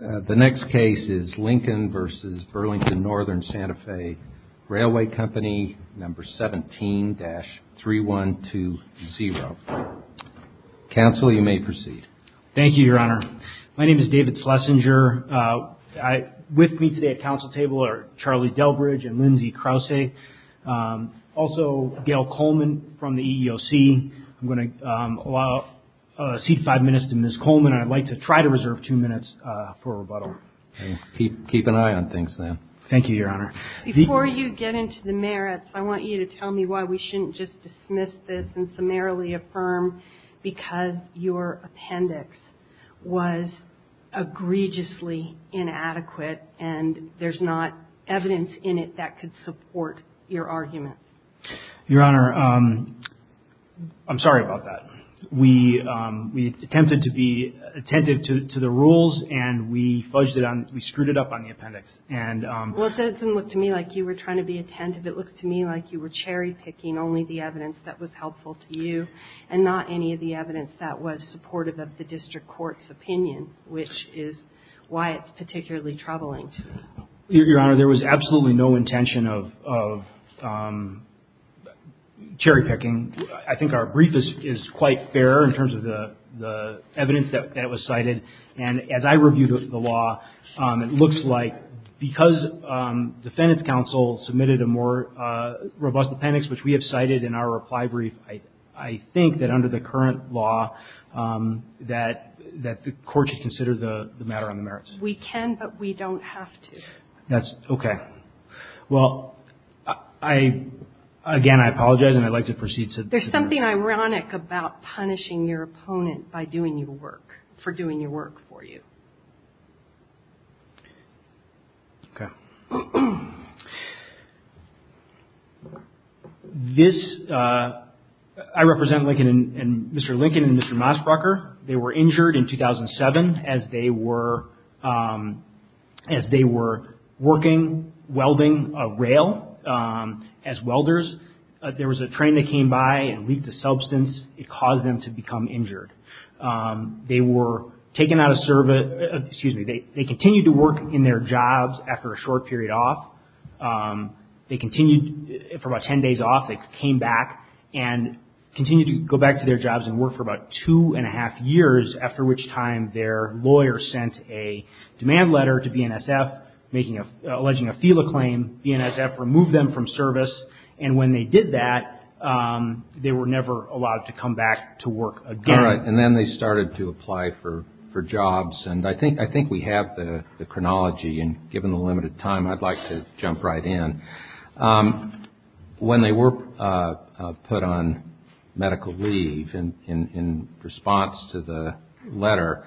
The next case is Lincoln v. Burlington Northern Santa Fe Railway Company No. 17-3120. Counsel, you may proceed. Thank you, Your Honor. My name is David Schlesinger. With me today at counsel table are Charlie Delbridge and Lindsay Krause. Also, Gail Coleman from the EEOC. I'm going to allow a seat of five minutes to Ms. Coleman. I'd like to try to reserve two minutes for rebuttal. Keep an eye on things, then. Thank you, Your Honor. Before you get into the merits, I want you to tell me why we shouldn't just dismiss this and summarily affirm because your appendix was egregiously inadequate and there's not evidence in it that could support your argument. Your Honor, I'm sorry about that. We attempted to be attentive to the rules and we fudged it up, we screwed it up on the appendix. Well, it doesn't look to me like you were trying to be attentive. It looks to me like you were cherry picking only the evidence that was helpful to you and not any of the evidence that was supportive of the district court's opinion, which is why it's particularly troubling to me. Your Honor, there was absolutely no intention of cherry picking. I think our brief is quite fair in terms of the evidence that was cited. And as I reviewed the law, it looks like because defendant's counsel submitted a more robust appendix, which we have cited in our reply brief, I think that under the current law that the court should consider the matter on the merits. We can, but we don't have to. That's okay. Well, again, I apologize and I'd like to proceed. There's something ironic about punishing your opponent by doing your work, for doing your work for you. Okay. This, I represent Lincoln and Mr. Lincoln and Mr. Mosbrucker. They were injured in 2007 as they were working welding a rail as welders. There was a train that came by and leaked a substance. It caused them to become injured. They were taken out of service. Excuse me. They continued to work in their jobs after a short period off. They continued for about 10 days off. They came back and continued to go back to their jobs and work for about two and a half years, after which time their lawyer sent a demand letter to BNSF alleging a FELA claim. BNSF removed them from service. And when they did that, they were never allowed to come back to work again. All right. And then they started to apply for jobs. And I think we have the chronology. And given the limited time, I'd like to jump right in. When they were put on medical leave in response to the letter,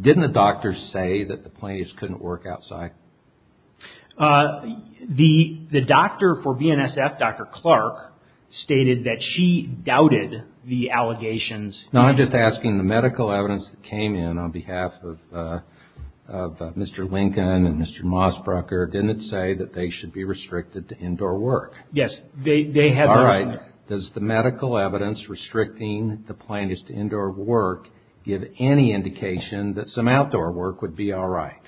didn't the doctor say that the plaintiffs couldn't work outside? The doctor for BNSF, Dr. Clark, stated that she doubted the allegations. No, I'm just asking the medical evidence that came in on behalf of Mr. Lincoln and Mr. Mossbrugger, didn't it say that they should be restricted to indoor work? Yes. All right. Does the medical evidence restricting the plaintiffs to indoor work give any indication that some outdoor work would be all right?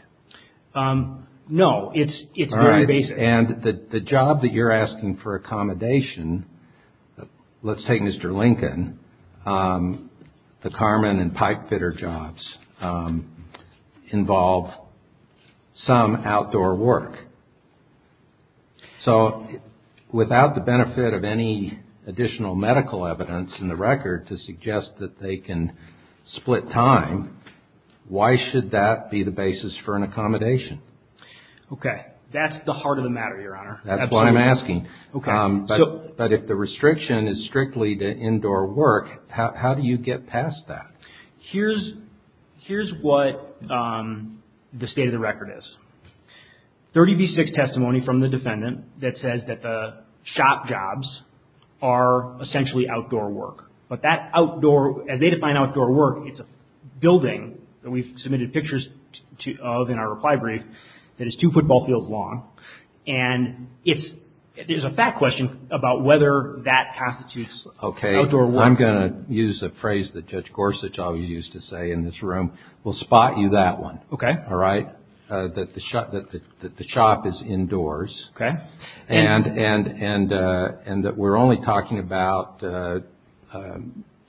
No. It's very basic. And the job that you're asking for accommodation, let's take Mr. Lincoln. The Carmen and pipe fitter jobs involve some outdoor work. So without the benefit of any additional medical evidence in the record to suggest that they can split time, why should that be the basis for an accommodation? Okay. That's the heart of the matter, Your Honor. That's what I'm asking. Okay. But if the restriction is strictly to indoor work, how do you get past that? Here's what the state of the record is. 30B6 testimony from the defendant that says that the shop jobs are essentially outdoor work. But that outdoor, as they define outdoor work, it's a building that we've submitted pictures of in our reply brief that is two football fields long. And there's a fact question about whether that constitutes outdoor work. Okay. I'm going to use a phrase that Judge Gorsuch always used to say in this room. We'll spot you that one. Okay. All right? That the shop is indoors. Okay. And that we're only talking about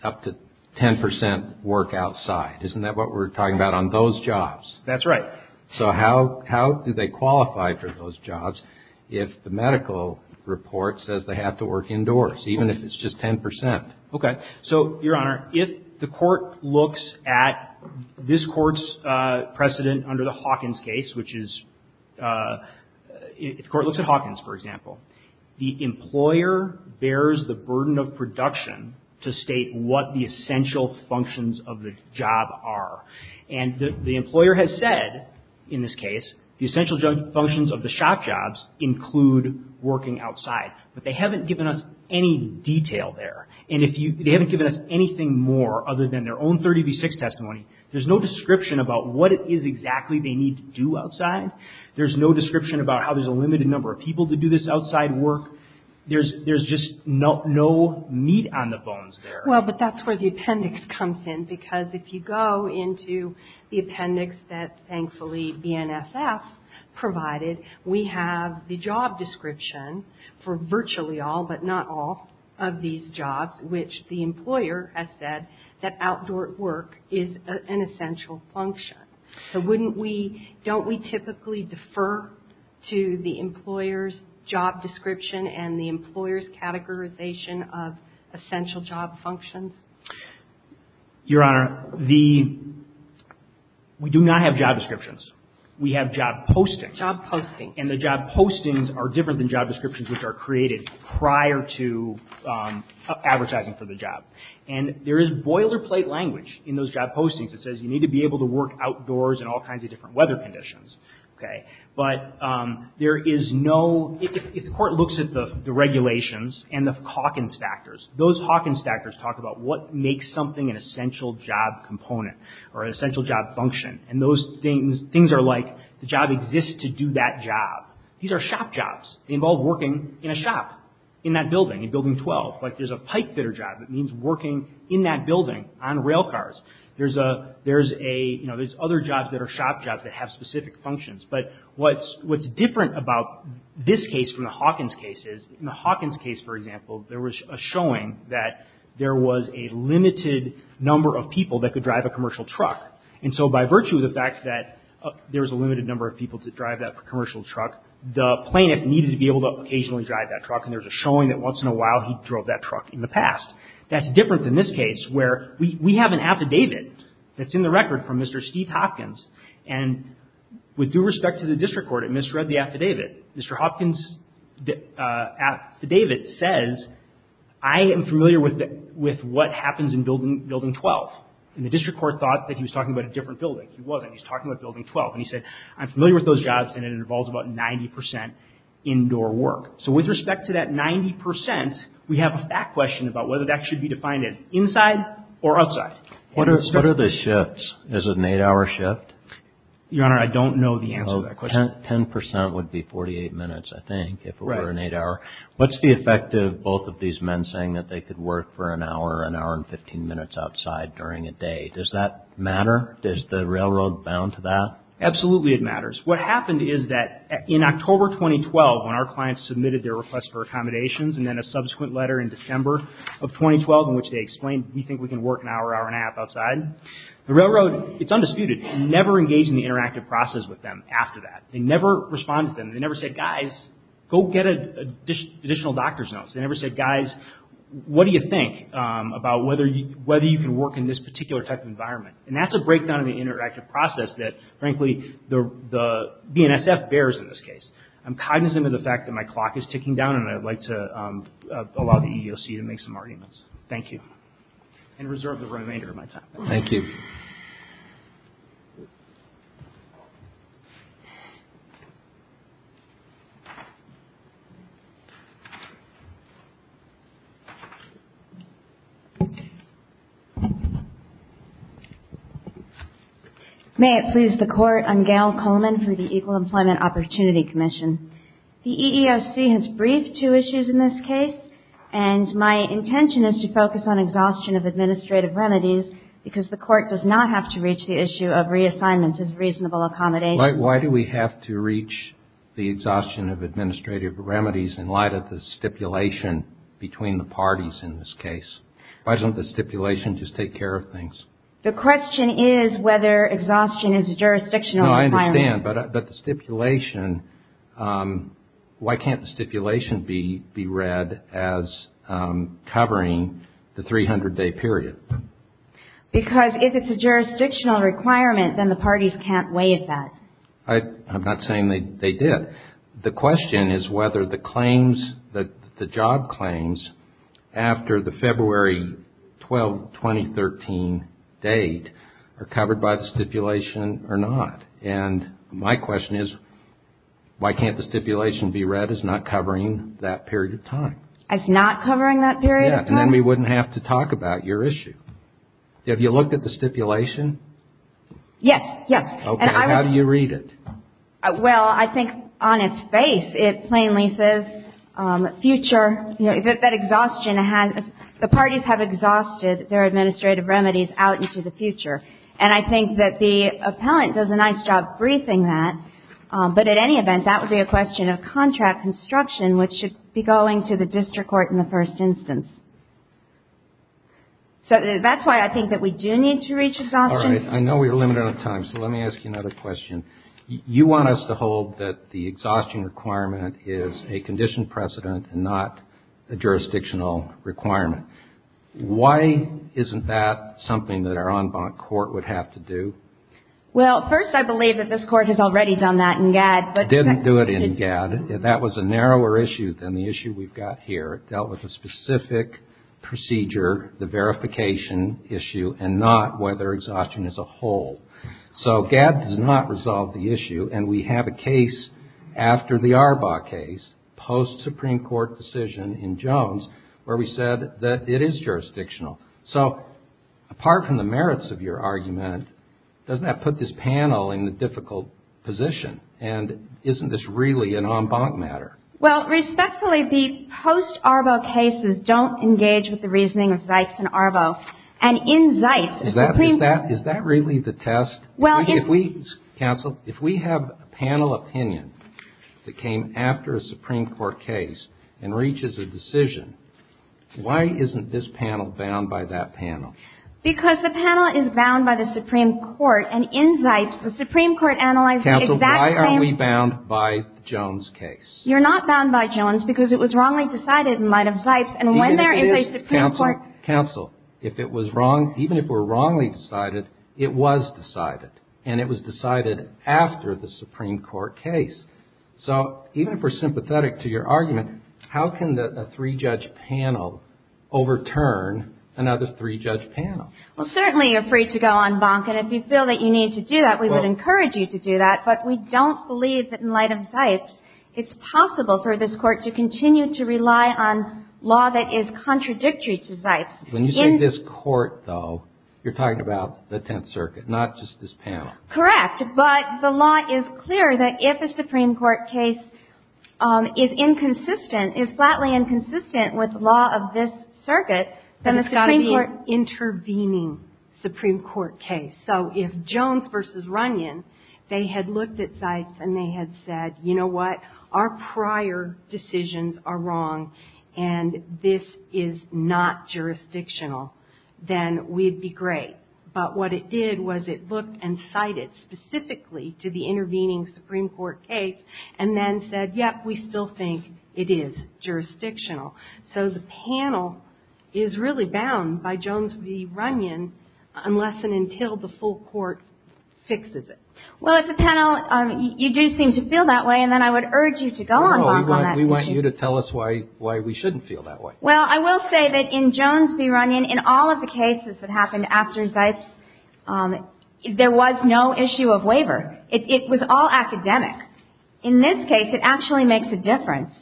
up to 10 percent work outside. Isn't that what we're talking about on those jobs? That's right. So how do they qualify for those jobs if the medical report says they have to work indoors, even if it's just 10 percent? Okay. So, Your Honor, if the Court looks at this Court's precedent under the Hawkins case, which is if the Court looks at Hawkins, for example, the employer bears the burden of production to state what the essential functions of the job are. And the employer has said, in this case, the essential functions of the shop jobs include working outside. But they haven't given us any detail there. And they haven't given us anything more other than their own 30 v. 6 testimony. There's no description about what it is exactly they need to do outside. There's no description about how there's a limited number of people to do this outside work. There's just no meat on the bones there. Well, but that's where the appendix comes in, because if you go into the appendix that, thankfully, BNSF provided, we have the job description for virtually all, but not all, of these jobs, which the employer has said that outdoor work is an essential function. So wouldn't we – don't we typically defer to the employer's job description and the employer's categorization of essential job functions? Your Honor, the – we do not have job descriptions. We have job postings. Job postings. And the job postings are different than job descriptions which are created prior to advertising for the job. And there is boilerplate language in those job postings that says you need to be able to work outdoors in all kinds of different weather conditions, okay? But there is no – if the Court looks at the regulations and the Hawkins factors, those Hawkins factors talk about what makes something an essential job component or an essential job function. And those things – things are like the job exists to do that job. These are shop jobs. They involve working in a shop in that building, in Building 12. Like there's a pipe fitter job that means working in that building on rail cars. There's a – there's a – you know, there's other jobs that are shop jobs that have specific functions. But what's – what's different about this case from the Hawkins case is in the Hawkins case, for example, there was a showing that there was a limited number of people that could drive a commercial truck. And so by virtue of the fact that there was a limited number of people to drive that commercial truck, the plaintiff needed to be able to occasionally drive that truck. And there's a showing that once in a while he drove that truck in the past. That's different than this case where we – we have an affidavit that's in the record from Mr. Steve Hopkins. And with due respect to the district court, it misread the affidavit. Mr. Hopkins' affidavit says, I am familiar with what happens in Building 12. And the district court thought that he was talking about a different building. He wasn't. He was talking about Building 12. And he said, I'm familiar with those jobs and it involves about 90 percent indoor work. So with respect to that 90 percent, we have a fact question about whether that should be defined as inside or outside. What are the shifts? Is it an eight-hour shift? Your Honor, I don't know the answer to that question. Ten percent would be 48 minutes, I think, if it were an eight-hour. What's the effect of both of these men saying that they could work for an hour, an hour and 15 minutes outside during a day? Does that matter? Is the railroad bound to that? Absolutely it matters. What happened is that in October 2012, when our clients submitted their request for accommodations and then a subsequent letter in December of 2012 in which they explained, we think we can work an hour, hour and a half outside, the railroad, it's undisputed, never engaged in the interactive process with them after that. They never responded to them. They never said, guys, go get additional doctor's notes. They never said, guys, what do you think about whether you can work in this particular type of environment? And that's a breakdown of the interactive process that, frankly, the BNSF bears in this case. I'm cognizant of the fact that my clock is ticking down, and I'd like to allow the EEOC to make some arguments. Thank you. And reserve the remainder of my time. Thank you. May it please the Court. I'm Gail Coleman from the Equal Employment Opportunity Commission. The EEOC has briefed two issues in this case, and my intention is to focus on exhaustion of administrative remedies, because the Court does not have to reach the issue of reassignment as reasonable accommodation. Why do we have to reach the exhaustion of administrative remedies in light of the stipulation between the parties in this case? Why doesn't the stipulation just take care of things? The question is whether exhaustion is a jurisdictional requirement. No, I understand. But the stipulation, why can't the stipulation be read as covering the 300-day period? Because if it's a jurisdictional requirement, then the parties can't waive that. I'm not saying they did. The question is whether the claims, the job claims, after the February 12, 2013 date are covered by the stipulation or not. And my question is, why can't the stipulation be read as not covering that period of time? As not covering that period of time? Yes, and then we wouldn't have to talk about your issue. Have you looked at the stipulation? Yes, yes. Okay. How do you read it? Well, I think on its face, it plainly says future, that exhaustion has, the parties have exhausted their administrative remedies out into the future. And I think that the appellant does a nice job briefing that. But at any event, that would be a question of contract construction, which should be going to the district court in the first instance. So that's why I think that we do need to reach exhaustion. All right. I know we are limited on time, so let me ask you another question. You want us to hold that the exhaustion requirement is a condition precedent and not a jurisdictional requirement. Why isn't that something that our en banc court would have to do? Well, first, I believe that this Court has already done that in GAD. Didn't do it in GAD. That was a narrower issue than the issue we've got here. It dealt with a specific procedure, the verification issue, and not whether exhaustion is a whole. So GAD does not resolve the issue. And we have a case after the Arbaugh case, post-Supreme Court decision in Jones, where we said that it is jurisdictional. So apart from the merits of your argument, doesn't that put this panel in a difficult position? And isn't this really an en banc matter? Well, respectfully, the post-Arbaugh cases don't engage with the reasoning of Zipes and Arbaugh. And in Zipes, the Supreme Court — Is that really the test? Well, if we — Counsel, if we have a panel opinion that came after a Supreme Court case and reaches a decision, why isn't this panel bound by that panel? Because the panel is bound by the Supreme Court. And in Zipes, the Supreme Court analyzed the exact same — Counsel, why are we bound by the Jones case? You're not bound by Jones because it was wrongly decided in light of Zipes. And when there is a Supreme Court — And it was decided after the Supreme Court case. So even if we're sympathetic to your argument, how can a three-judge panel overturn another three-judge panel? Well, certainly you're free to go en banc. And if you feel that you need to do that, we would encourage you to do that. But we don't believe that in light of Zipes, it's possible for this Court to continue to rely on law that is contradictory to Zipes. When you say this Court, though, you're talking about the Tenth Circuit, not just this panel. Correct. But the law is clear that if a Supreme Court case is inconsistent, is flatly inconsistent with the law of this circuit, then the Supreme Court — But it's got to be an intervening Supreme Court case. So if Jones v. Runyon, they had looked at Zipes and they had said, you know what, our prior decisions are wrong, and this is not jurisdictional, then we'd be great. But what it did was it looked and cited specifically to the intervening Supreme Court case and then said, yep, we still think it is jurisdictional. So the panel is really bound by Jones v. Runyon unless and until the full Court fixes it. Well, it's a panel — you do seem to feel that way, and then I would urge you to go en banc on that issue. I would urge you to tell us why we shouldn't feel that way. Well, I will say that in Jones v. Runyon, in all of the cases that happened after Zipes, there was no issue of waiver. It was all academic. In this case, it actually makes a difference.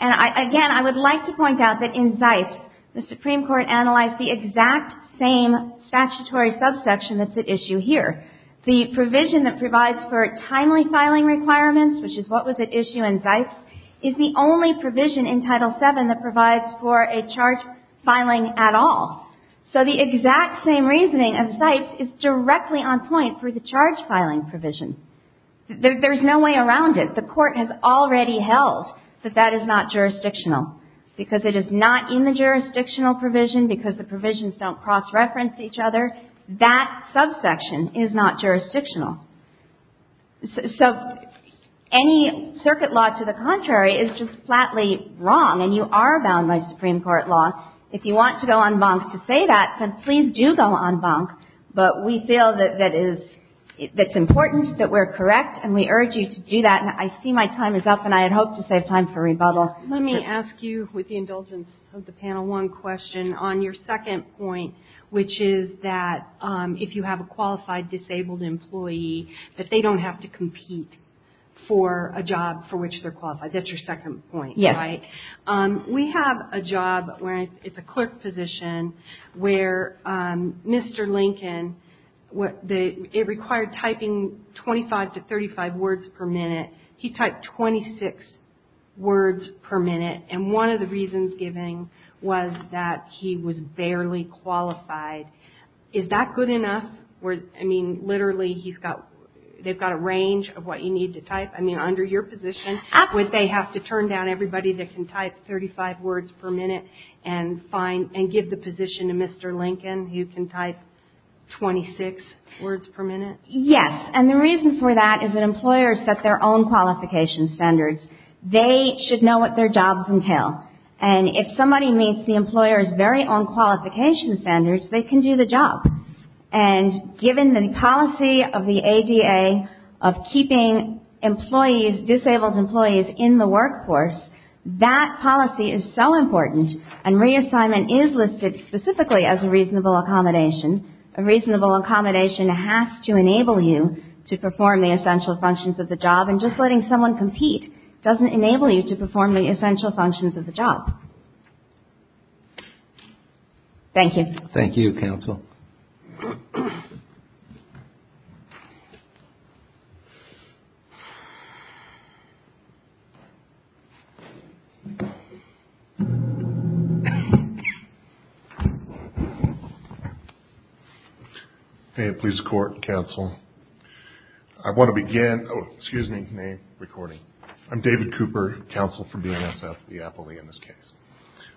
And again, I would like to point out that in Zipes, the Supreme Court analyzed the exact same statutory subsection that's at issue here. The provision that provides for timely filing requirements, which is what was at issue in Zipes, is the only provision in Title VII that provides for a charge filing at all. So the exact same reasoning of Zipes is directly on point for the charge filing provision. There's no way around it. The Court has already held that that is not jurisdictional because it is not in the jurisdictional provision because the provisions don't cross-reference each other. That subsection is not jurisdictional. So any circuit law to the contrary is just flatly wrong, and you are bound by Supreme Court law. If you want to go en banc to say that, then please do go en banc. But we feel that it's important that we're correct, and we urge you to do that. And I see my time is up, and I had hoped to save time for rebuttal. Let me ask you, with the indulgence of the Panel 1 question, on your second point, which is that if you have a qualified disabled employee, that they don't have to compete for a job for which they're qualified. That's your second point, right? Yes. We have a job where it's a clerk position where Mr. Lincoln, it required typing 25 to 35 words per minute. He typed 26 words per minute, and one of the reasons given was that he was barely qualified. Is that good enough? I mean, literally, they've got a range of what you need to type. I mean, under your position, would they have to turn down everybody that can type 35 words per minute and give the position to Mr. Lincoln, who can type 26 words per minute? Yes, and the reason for that is that employers set their own qualification standards. They should know what their jobs entail. And if somebody meets the employer's very own qualification standards, they can do the job. And given the policy of the ADA of keeping employees, disabled employees, in the workforce, that policy is so important, and reassignment is listed specifically as a reasonable accommodation. A reasonable accommodation has to enable you to perform the essential functions of the job, and just letting someone compete doesn't enable you to perform the essential functions of the job. Thank you. Thank you, counsel. Thank you. Hey, please court, counsel. I want to begin. Oh, excuse me, name, recording. I'm David Cooper, counsel for BNSF, the appellee in this case.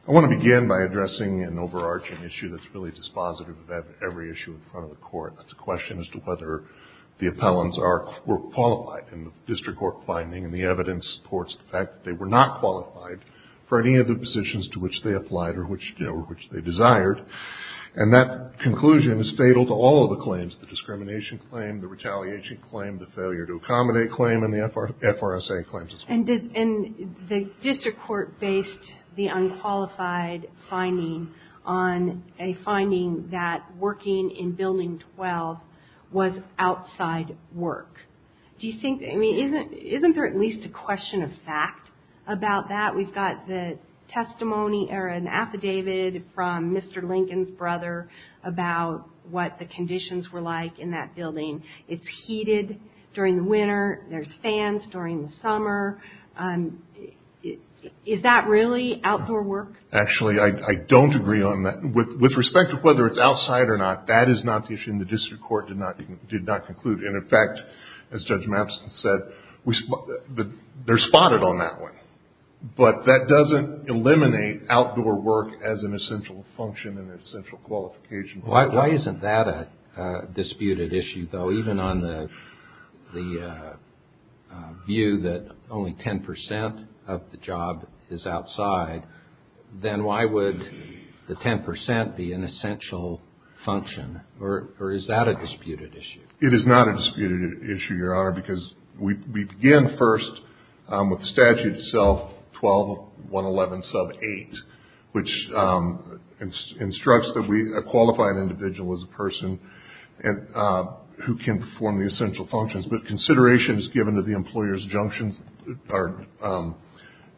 I want to begin by addressing an overarching issue that's really dispositive of every issue in front of the court. That's a question as to whether the appellants were qualified in the district court finding, and the evidence supports the fact that they were not qualified for any of the positions to which they applied or which they desired. And that conclusion is fatal to all of the claims, the discrimination claim, the retaliation claim, the failure to accommodate claim, and the FRSA claims as well. And the district court based the unqualified finding on a finding that working in Building 12 was outside work. Do you think, I mean, isn't there at least a question of fact about that? We've got the testimony or an affidavit from Mr. Lincoln's brother about what the conditions were like in that building. It's heated during the winter. There's fans during the summer. Is that really outdoor work? Actually, I don't agree on that. With respect to whether it's outside or not, that is not the issue, and the district court did not conclude. And, in fact, as Judge Mapson said, they're spotted on that one. But that doesn't eliminate outdoor work as an essential function and an essential qualification. Why isn't that a disputed issue, though, even on the view that only 10 percent of the job is outside? Then why would the 10 percent be an essential function? Or is that a disputed issue? It is not a disputed issue, Your Honor, because we begin first with the statute itself, 12-111-8, which instructs that we qualify an individual as a person who can perform the essential functions. But consideration is given to the employer's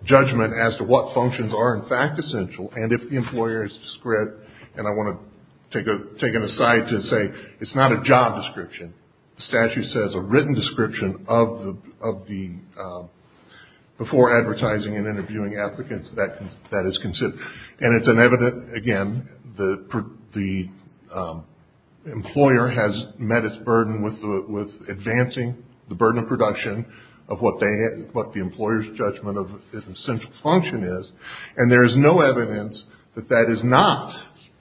judgment as to what functions are, in fact, essential. And if the employer is discreet, and I want to take it aside to say it's not a job description. The statute says a written description of the, before advertising and interviewing applicants, that is considered. And it's an evident, again, the employer has met its burden with advancing the burden of production of what they, what the employer's judgment of essential function is. And there is no evidence that that is not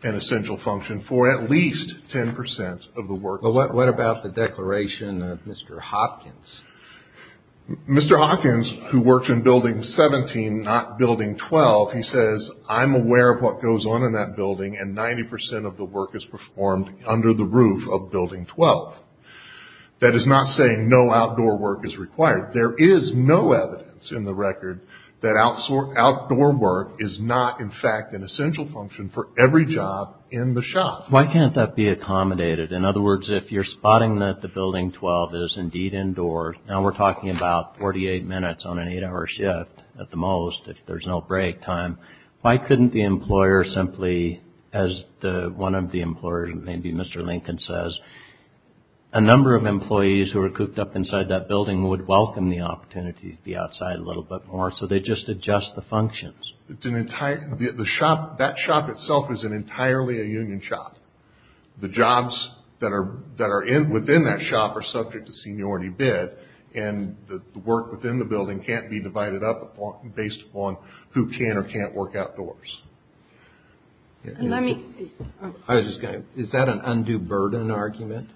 an essential function for at least 10 percent of the work. Well, what about the declaration of Mr. Hopkins? Mr. Hopkins, who worked in Building 17, not Building 12, he says, I'm aware of what goes on in that building and 90 percent of the work is performed under the roof of Building 12. That is not saying no outdoor work is required. There is no evidence in the record that outdoor work is not, in fact, an essential function for every job in the shop. Why can't that be accommodated? In other words, if you're spotting that the Building 12 is indeed indoors, now we're talking about 48 minutes on an eight-hour shift at the most if there's no break time, why couldn't the employer simply, as one of the employers, maybe Mr. Lincoln says, a number of employees who are cooped up inside that building would welcome the opportunity to be outside a little bit more, so they just adjust the functions. It's an entire, the shop, that shop itself is an entirely a union shop. The jobs that are within that shop are subject to seniority bid and the work within the building can't be divided up based upon who can or can't work outdoors. Is that an undue burden argument?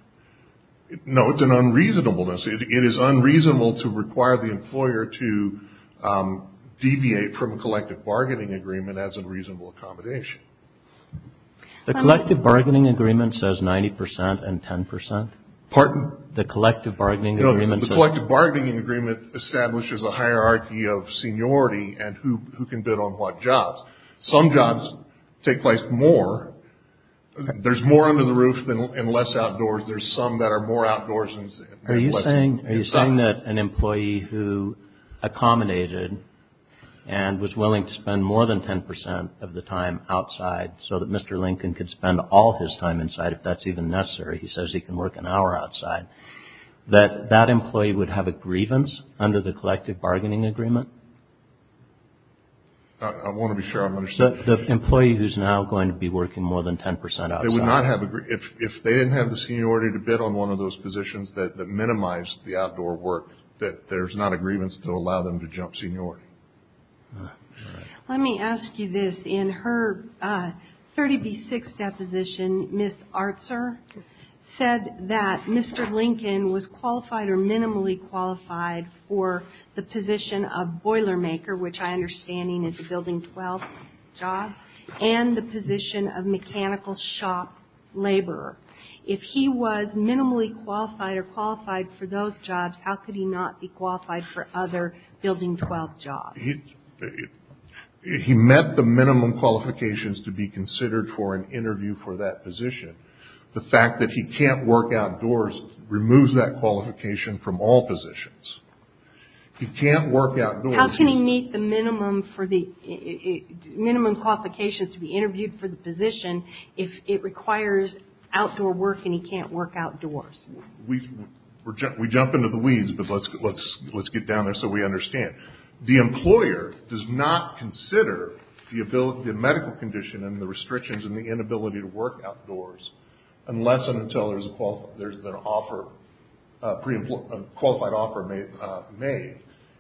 No, it's an unreasonableness. It is unreasonable to require the employer to deviate from a collective bargaining agreement as a reasonable accommodation. The collective bargaining agreement says 90% and 10%. Pardon? The collective bargaining agreement says. No, the collective bargaining agreement establishes a hierarchy of seniority and who can bid on what jobs. Some jobs take place more. There's more under the roof and less outdoors. There's some that are more outdoors. Are you saying that an employee who accommodated and was willing to spend more than 10% of the time outside so that Mr. Lincoln could spend all his time inside if that's even necessary, he says he can work an hour outside, that that employee would have a grievance under the collective bargaining agreement? I want to be sure I'm understanding. The employee who's now going to be working more than 10% outside. If they didn't have the seniority to bid on one of those positions that minimized the outdoor work, that there's not a grievance to allow them to jump seniority. Let me ask you this. In her 30B6 deposition, Ms. Artzer said that Mr. Lincoln was qualified or minimally qualified for the position of boiler maker, which I understand is a Building 12 job, and the position of mechanical shop laborer. If he was minimally qualified or qualified for those jobs, how could he not be qualified for other Building 12 jobs? He met the minimum qualifications to be considered for an interview for that position. The fact that he can't work outdoors removes that qualification from all positions. He can't work outdoors. How can he meet the minimum for the minimum qualifications to be interviewed for the position if it requires outdoor work and he can't work outdoors? We jump into the weeds, but let's get down there so we understand. The employer does not consider the medical condition and the restrictions and the inability to work outdoors unless and until there's a qualified offer made.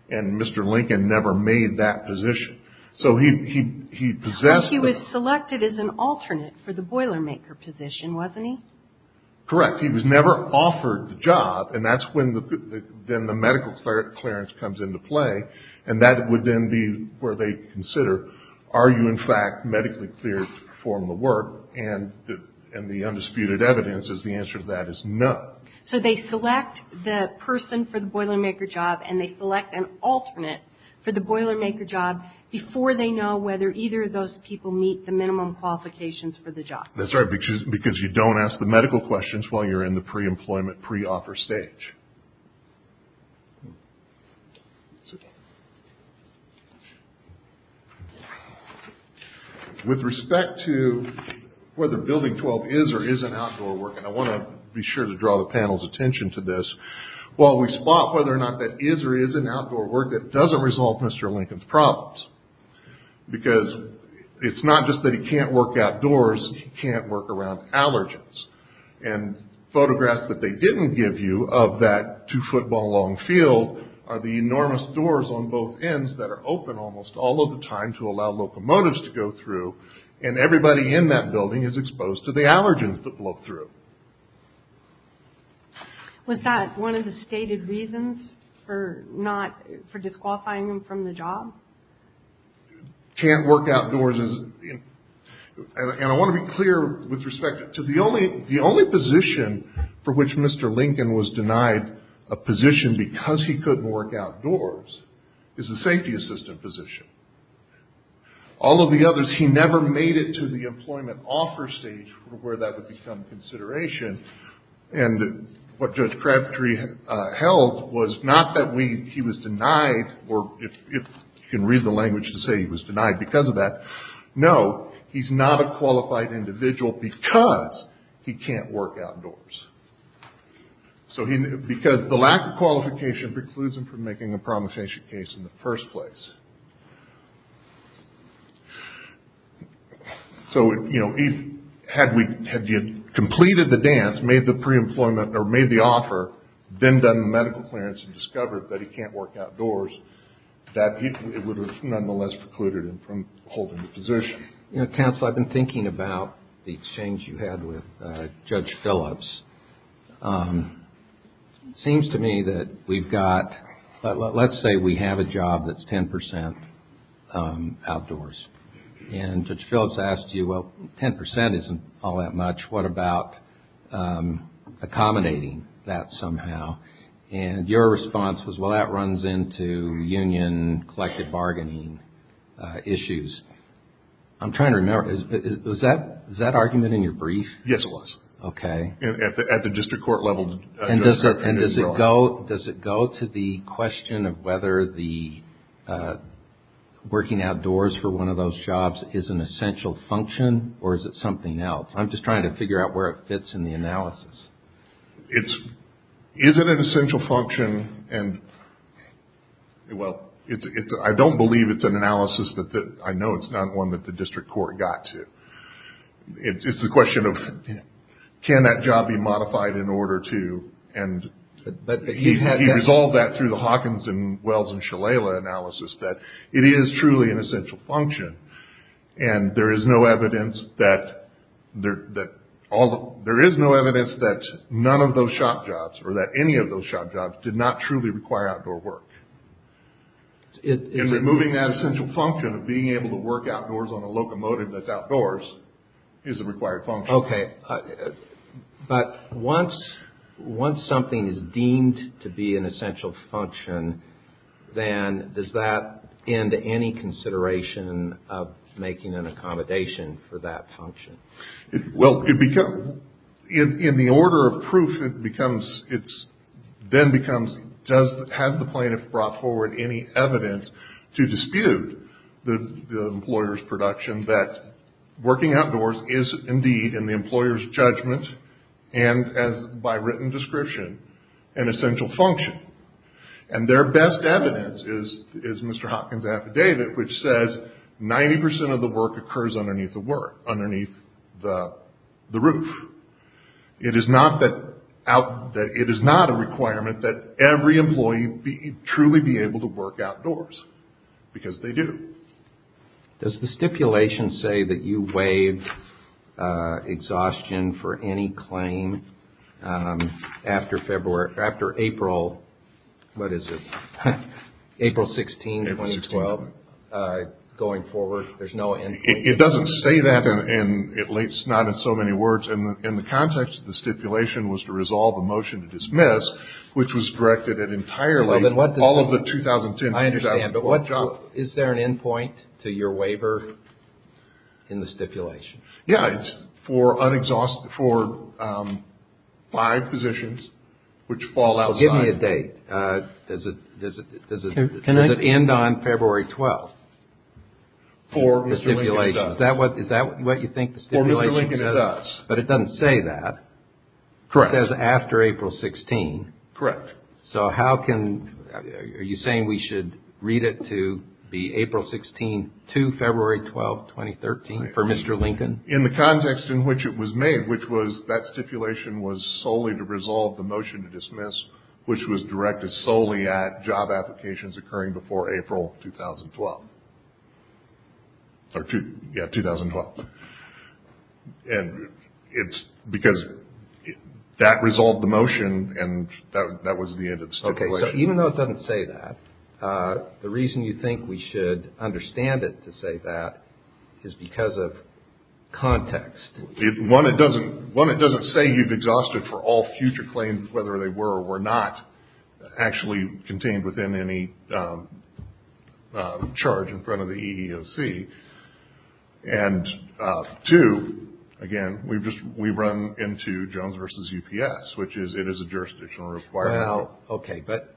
And Mr. Lincoln never made that position. So he possessed that. But he was selected as an alternate for the boiler maker position, wasn't he? Correct. He was never offered the job, and that's when the medical clearance comes into play, and that would then be where they consider are you in fact medically cleared to perform the work, and the undisputed evidence is the answer to that is no. So they select the person for the boiler maker job, and they select an alternate for the boiler maker job before they know whether either of those people meet the minimum qualifications for the job. That's right, because you don't ask the medical questions while you're in the pre-employment, pre-offer stage. With respect to whether Building 12 is or isn't outdoor work, and I want to be sure to draw the panel's attention to this, while we spot whether or not that is or isn't outdoor work, that doesn't resolve Mr. Lincoln's problems. Because it's not just that he can't work outdoors, he can't work around allergens. And photographs that they didn't give you of that two-football-long field are the enormous doors on both ends that are open almost all of the time to allow locomotives to go through, and everybody in that building is exposed to the allergens that blow through. Was that one of the stated reasons for disqualifying him from the job? Can't work outdoors, and I want to be clear with respect to the only position for which Mr. Lincoln was denied a position because he couldn't work outdoors is a safety assistant position. All of the others, he never made it to the employment offer stage where that would become consideration, and what Judge Crabtree held was not that he was denied, or if you can read the language to say he was denied because of that, no, he's not a qualified individual because he can't work outdoors. Because the lack of qualification precludes him from making a promissory case in the first place. So, you know, had he completed the dance, made the pre-employment, or made the offer, then done the medical clearance and discovered that he can't work outdoors, that it would have nonetheless precluded him from holding the position. Counsel, I've been thinking about the exchange you had with Judge Phillips. It seems to me that we've got, let's say we have a job that's 10% outdoors, and Judge Phillips asked you, well, 10% isn't all that much, what about accommodating that somehow? And your response was, well, that runs into union collective bargaining issues. I'm trying to remember, was that argument in your brief? Yes, it was. Okay. At the district court level. And does it go to the question of whether working outdoors for one of those jobs is an essential function, or is it something else? I'm just trying to figure out where it fits in the analysis. Is it an essential function? Well, I don't believe it's an analysis, I know it's not one that the district court got to. It's a question of can that job be modified in order to, and he resolved that through the Hawkins and Wells and Shalala analysis, that it is truly an essential function, and there is no evidence that none of those shop jobs, or that any of those shop jobs did not truly require outdoor work. In removing that essential function of being able to work outdoors on a locomotive that's outdoors is a required function. Okay. But once something is deemed to be an essential function, then does that end any consideration of making an accommodation for that function? Well, in the order of proof, it becomes, then becomes has the plaintiff brought forward any evidence to dispute the employer's production that working outdoors is indeed in the employer's judgment, and by written description, an essential function. 90% of the work occurs underneath the work, underneath the roof. It is not a requirement that every employee truly be able to work outdoors, because they do. Does the stipulation say that you waive exhaustion for any claim after April, what is it, April 16, 2012? Going forward, there's no end point? It doesn't say that, at least not in so many words. In the context of the stipulation was to resolve a motion to dismiss, which was directed at entirely all of the 2010-2012. I understand, but is there an end point to your waiver in the stipulation? Yeah, it's for five positions, which fall outside. Give me a date. Does it end on February 12? For Mr. Lincoln, it does. Is that what you think the stipulation says? For Mr. Lincoln, it does. But it doesn't say that. Correct. It says after April 16. Correct. So how can, are you saying we should read it to be April 16 to February 12, 2013, for Mr. Lincoln? In the context in which it was made, which was that stipulation was solely to resolve the motion to dismiss, which was directed solely at job applications occurring before April 2012. Yeah, 2012. And it's because that resolved the motion, and that was the end of the stipulation. Even though it doesn't say that, the reason you think we should understand it to say that is because of context. One, it doesn't say you've exhausted for all future claims, whether they were or were not actually contained within any charge in front of the EEOC. And two, again, we've run into Jones v. UPS, which is it is a jurisdictional requirement. Well, okay. But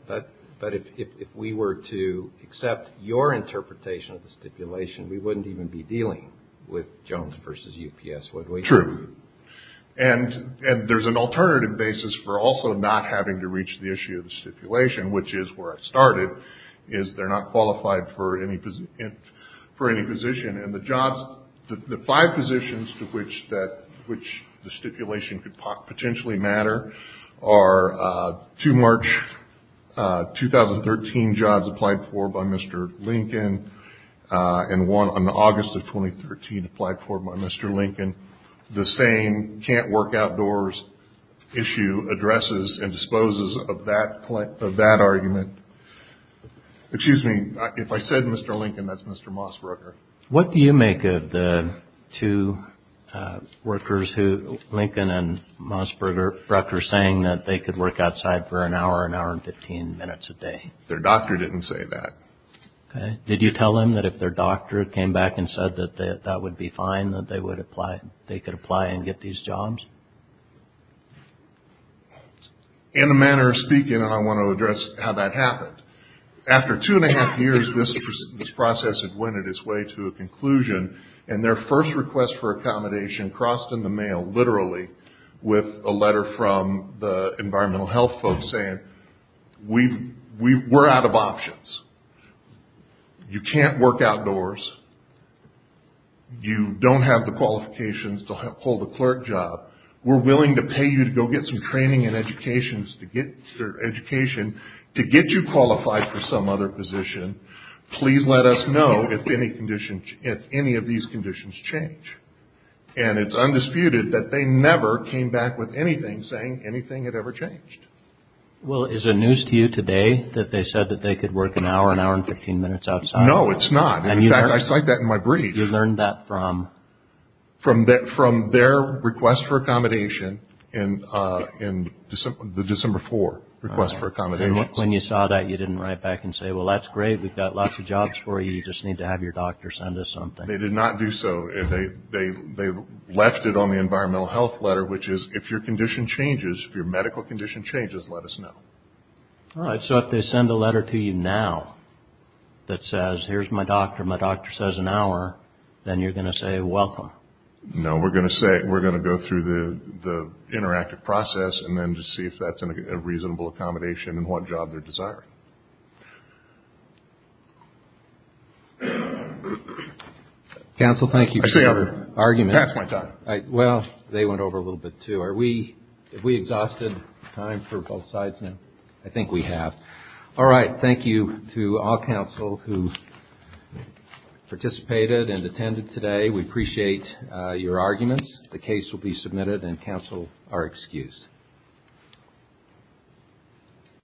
if we were to accept your interpretation of the stipulation, we wouldn't even be dealing with Jones v. UPS, would we? True. And there's an alternative basis for also not having to reach the issue of the stipulation, which is where I started, is they're not qualified for any position. The five positions to which the stipulation could potentially matter are two March 2013 jobs applied for by Mr. Lincoln, and one on August of 2013 applied for by Mr. Lincoln. The same can't work outdoors issue addresses and disposes of that argument. Excuse me. If I said Mr. Lincoln, that's Mr. Mossberger. What do you make of the two workers, Lincoln and Mossberger, saying that they could work outside for an hour, an hour and 15 minutes a day? Their doctor didn't say that. Okay. Did you tell them that if their doctor came back and said that that would be fine, that they could apply and get these jobs? In a manner of speaking, I want to address how that happened. After two and a half years, this process had went its way to a conclusion, and their first request for accommodation crossed in the mail, literally, with a letter from the environmental health folks saying, we're out of options. You can't work outdoors. You don't have the qualifications to hold a clerk job. We're willing to pay you to go get some training and education to get you qualified for some other position. Please let us know if any of these conditions change. And it's undisputed that they never came back with anything saying anything had ever changed. Well, is it news to you today that they said that they could work an hour, an hour and 15 minutes outside? No, it's not. In fact, I cite that in my brief. You learned that from? From their request for accommodation in the December 4 request for accommodation. When you saw that, you didn't write back and say, well, that's great. We've got lots of jobs for you. You just need to have your doctor send us something. They did not do so. They left it on the environmental health letter, which is, if your condition changes, if your medical condition changes, let us know. All right. So if they send a letter to you now that says, here's my doctor, my doctor says an hour, then you're going to say welcome. No, we're going to say we're going to go through the interactive process and then just see if that's a reasonable accommodation and what job they're desiring. Counsel, thank you for your argument. Well, they went over a little bit, too. Have we exhausted time for both sides now? I think we have. All right. Thank you to all counsel who participated and attended today. We appreciate your arguments. The case will be submitted and counsel are excused.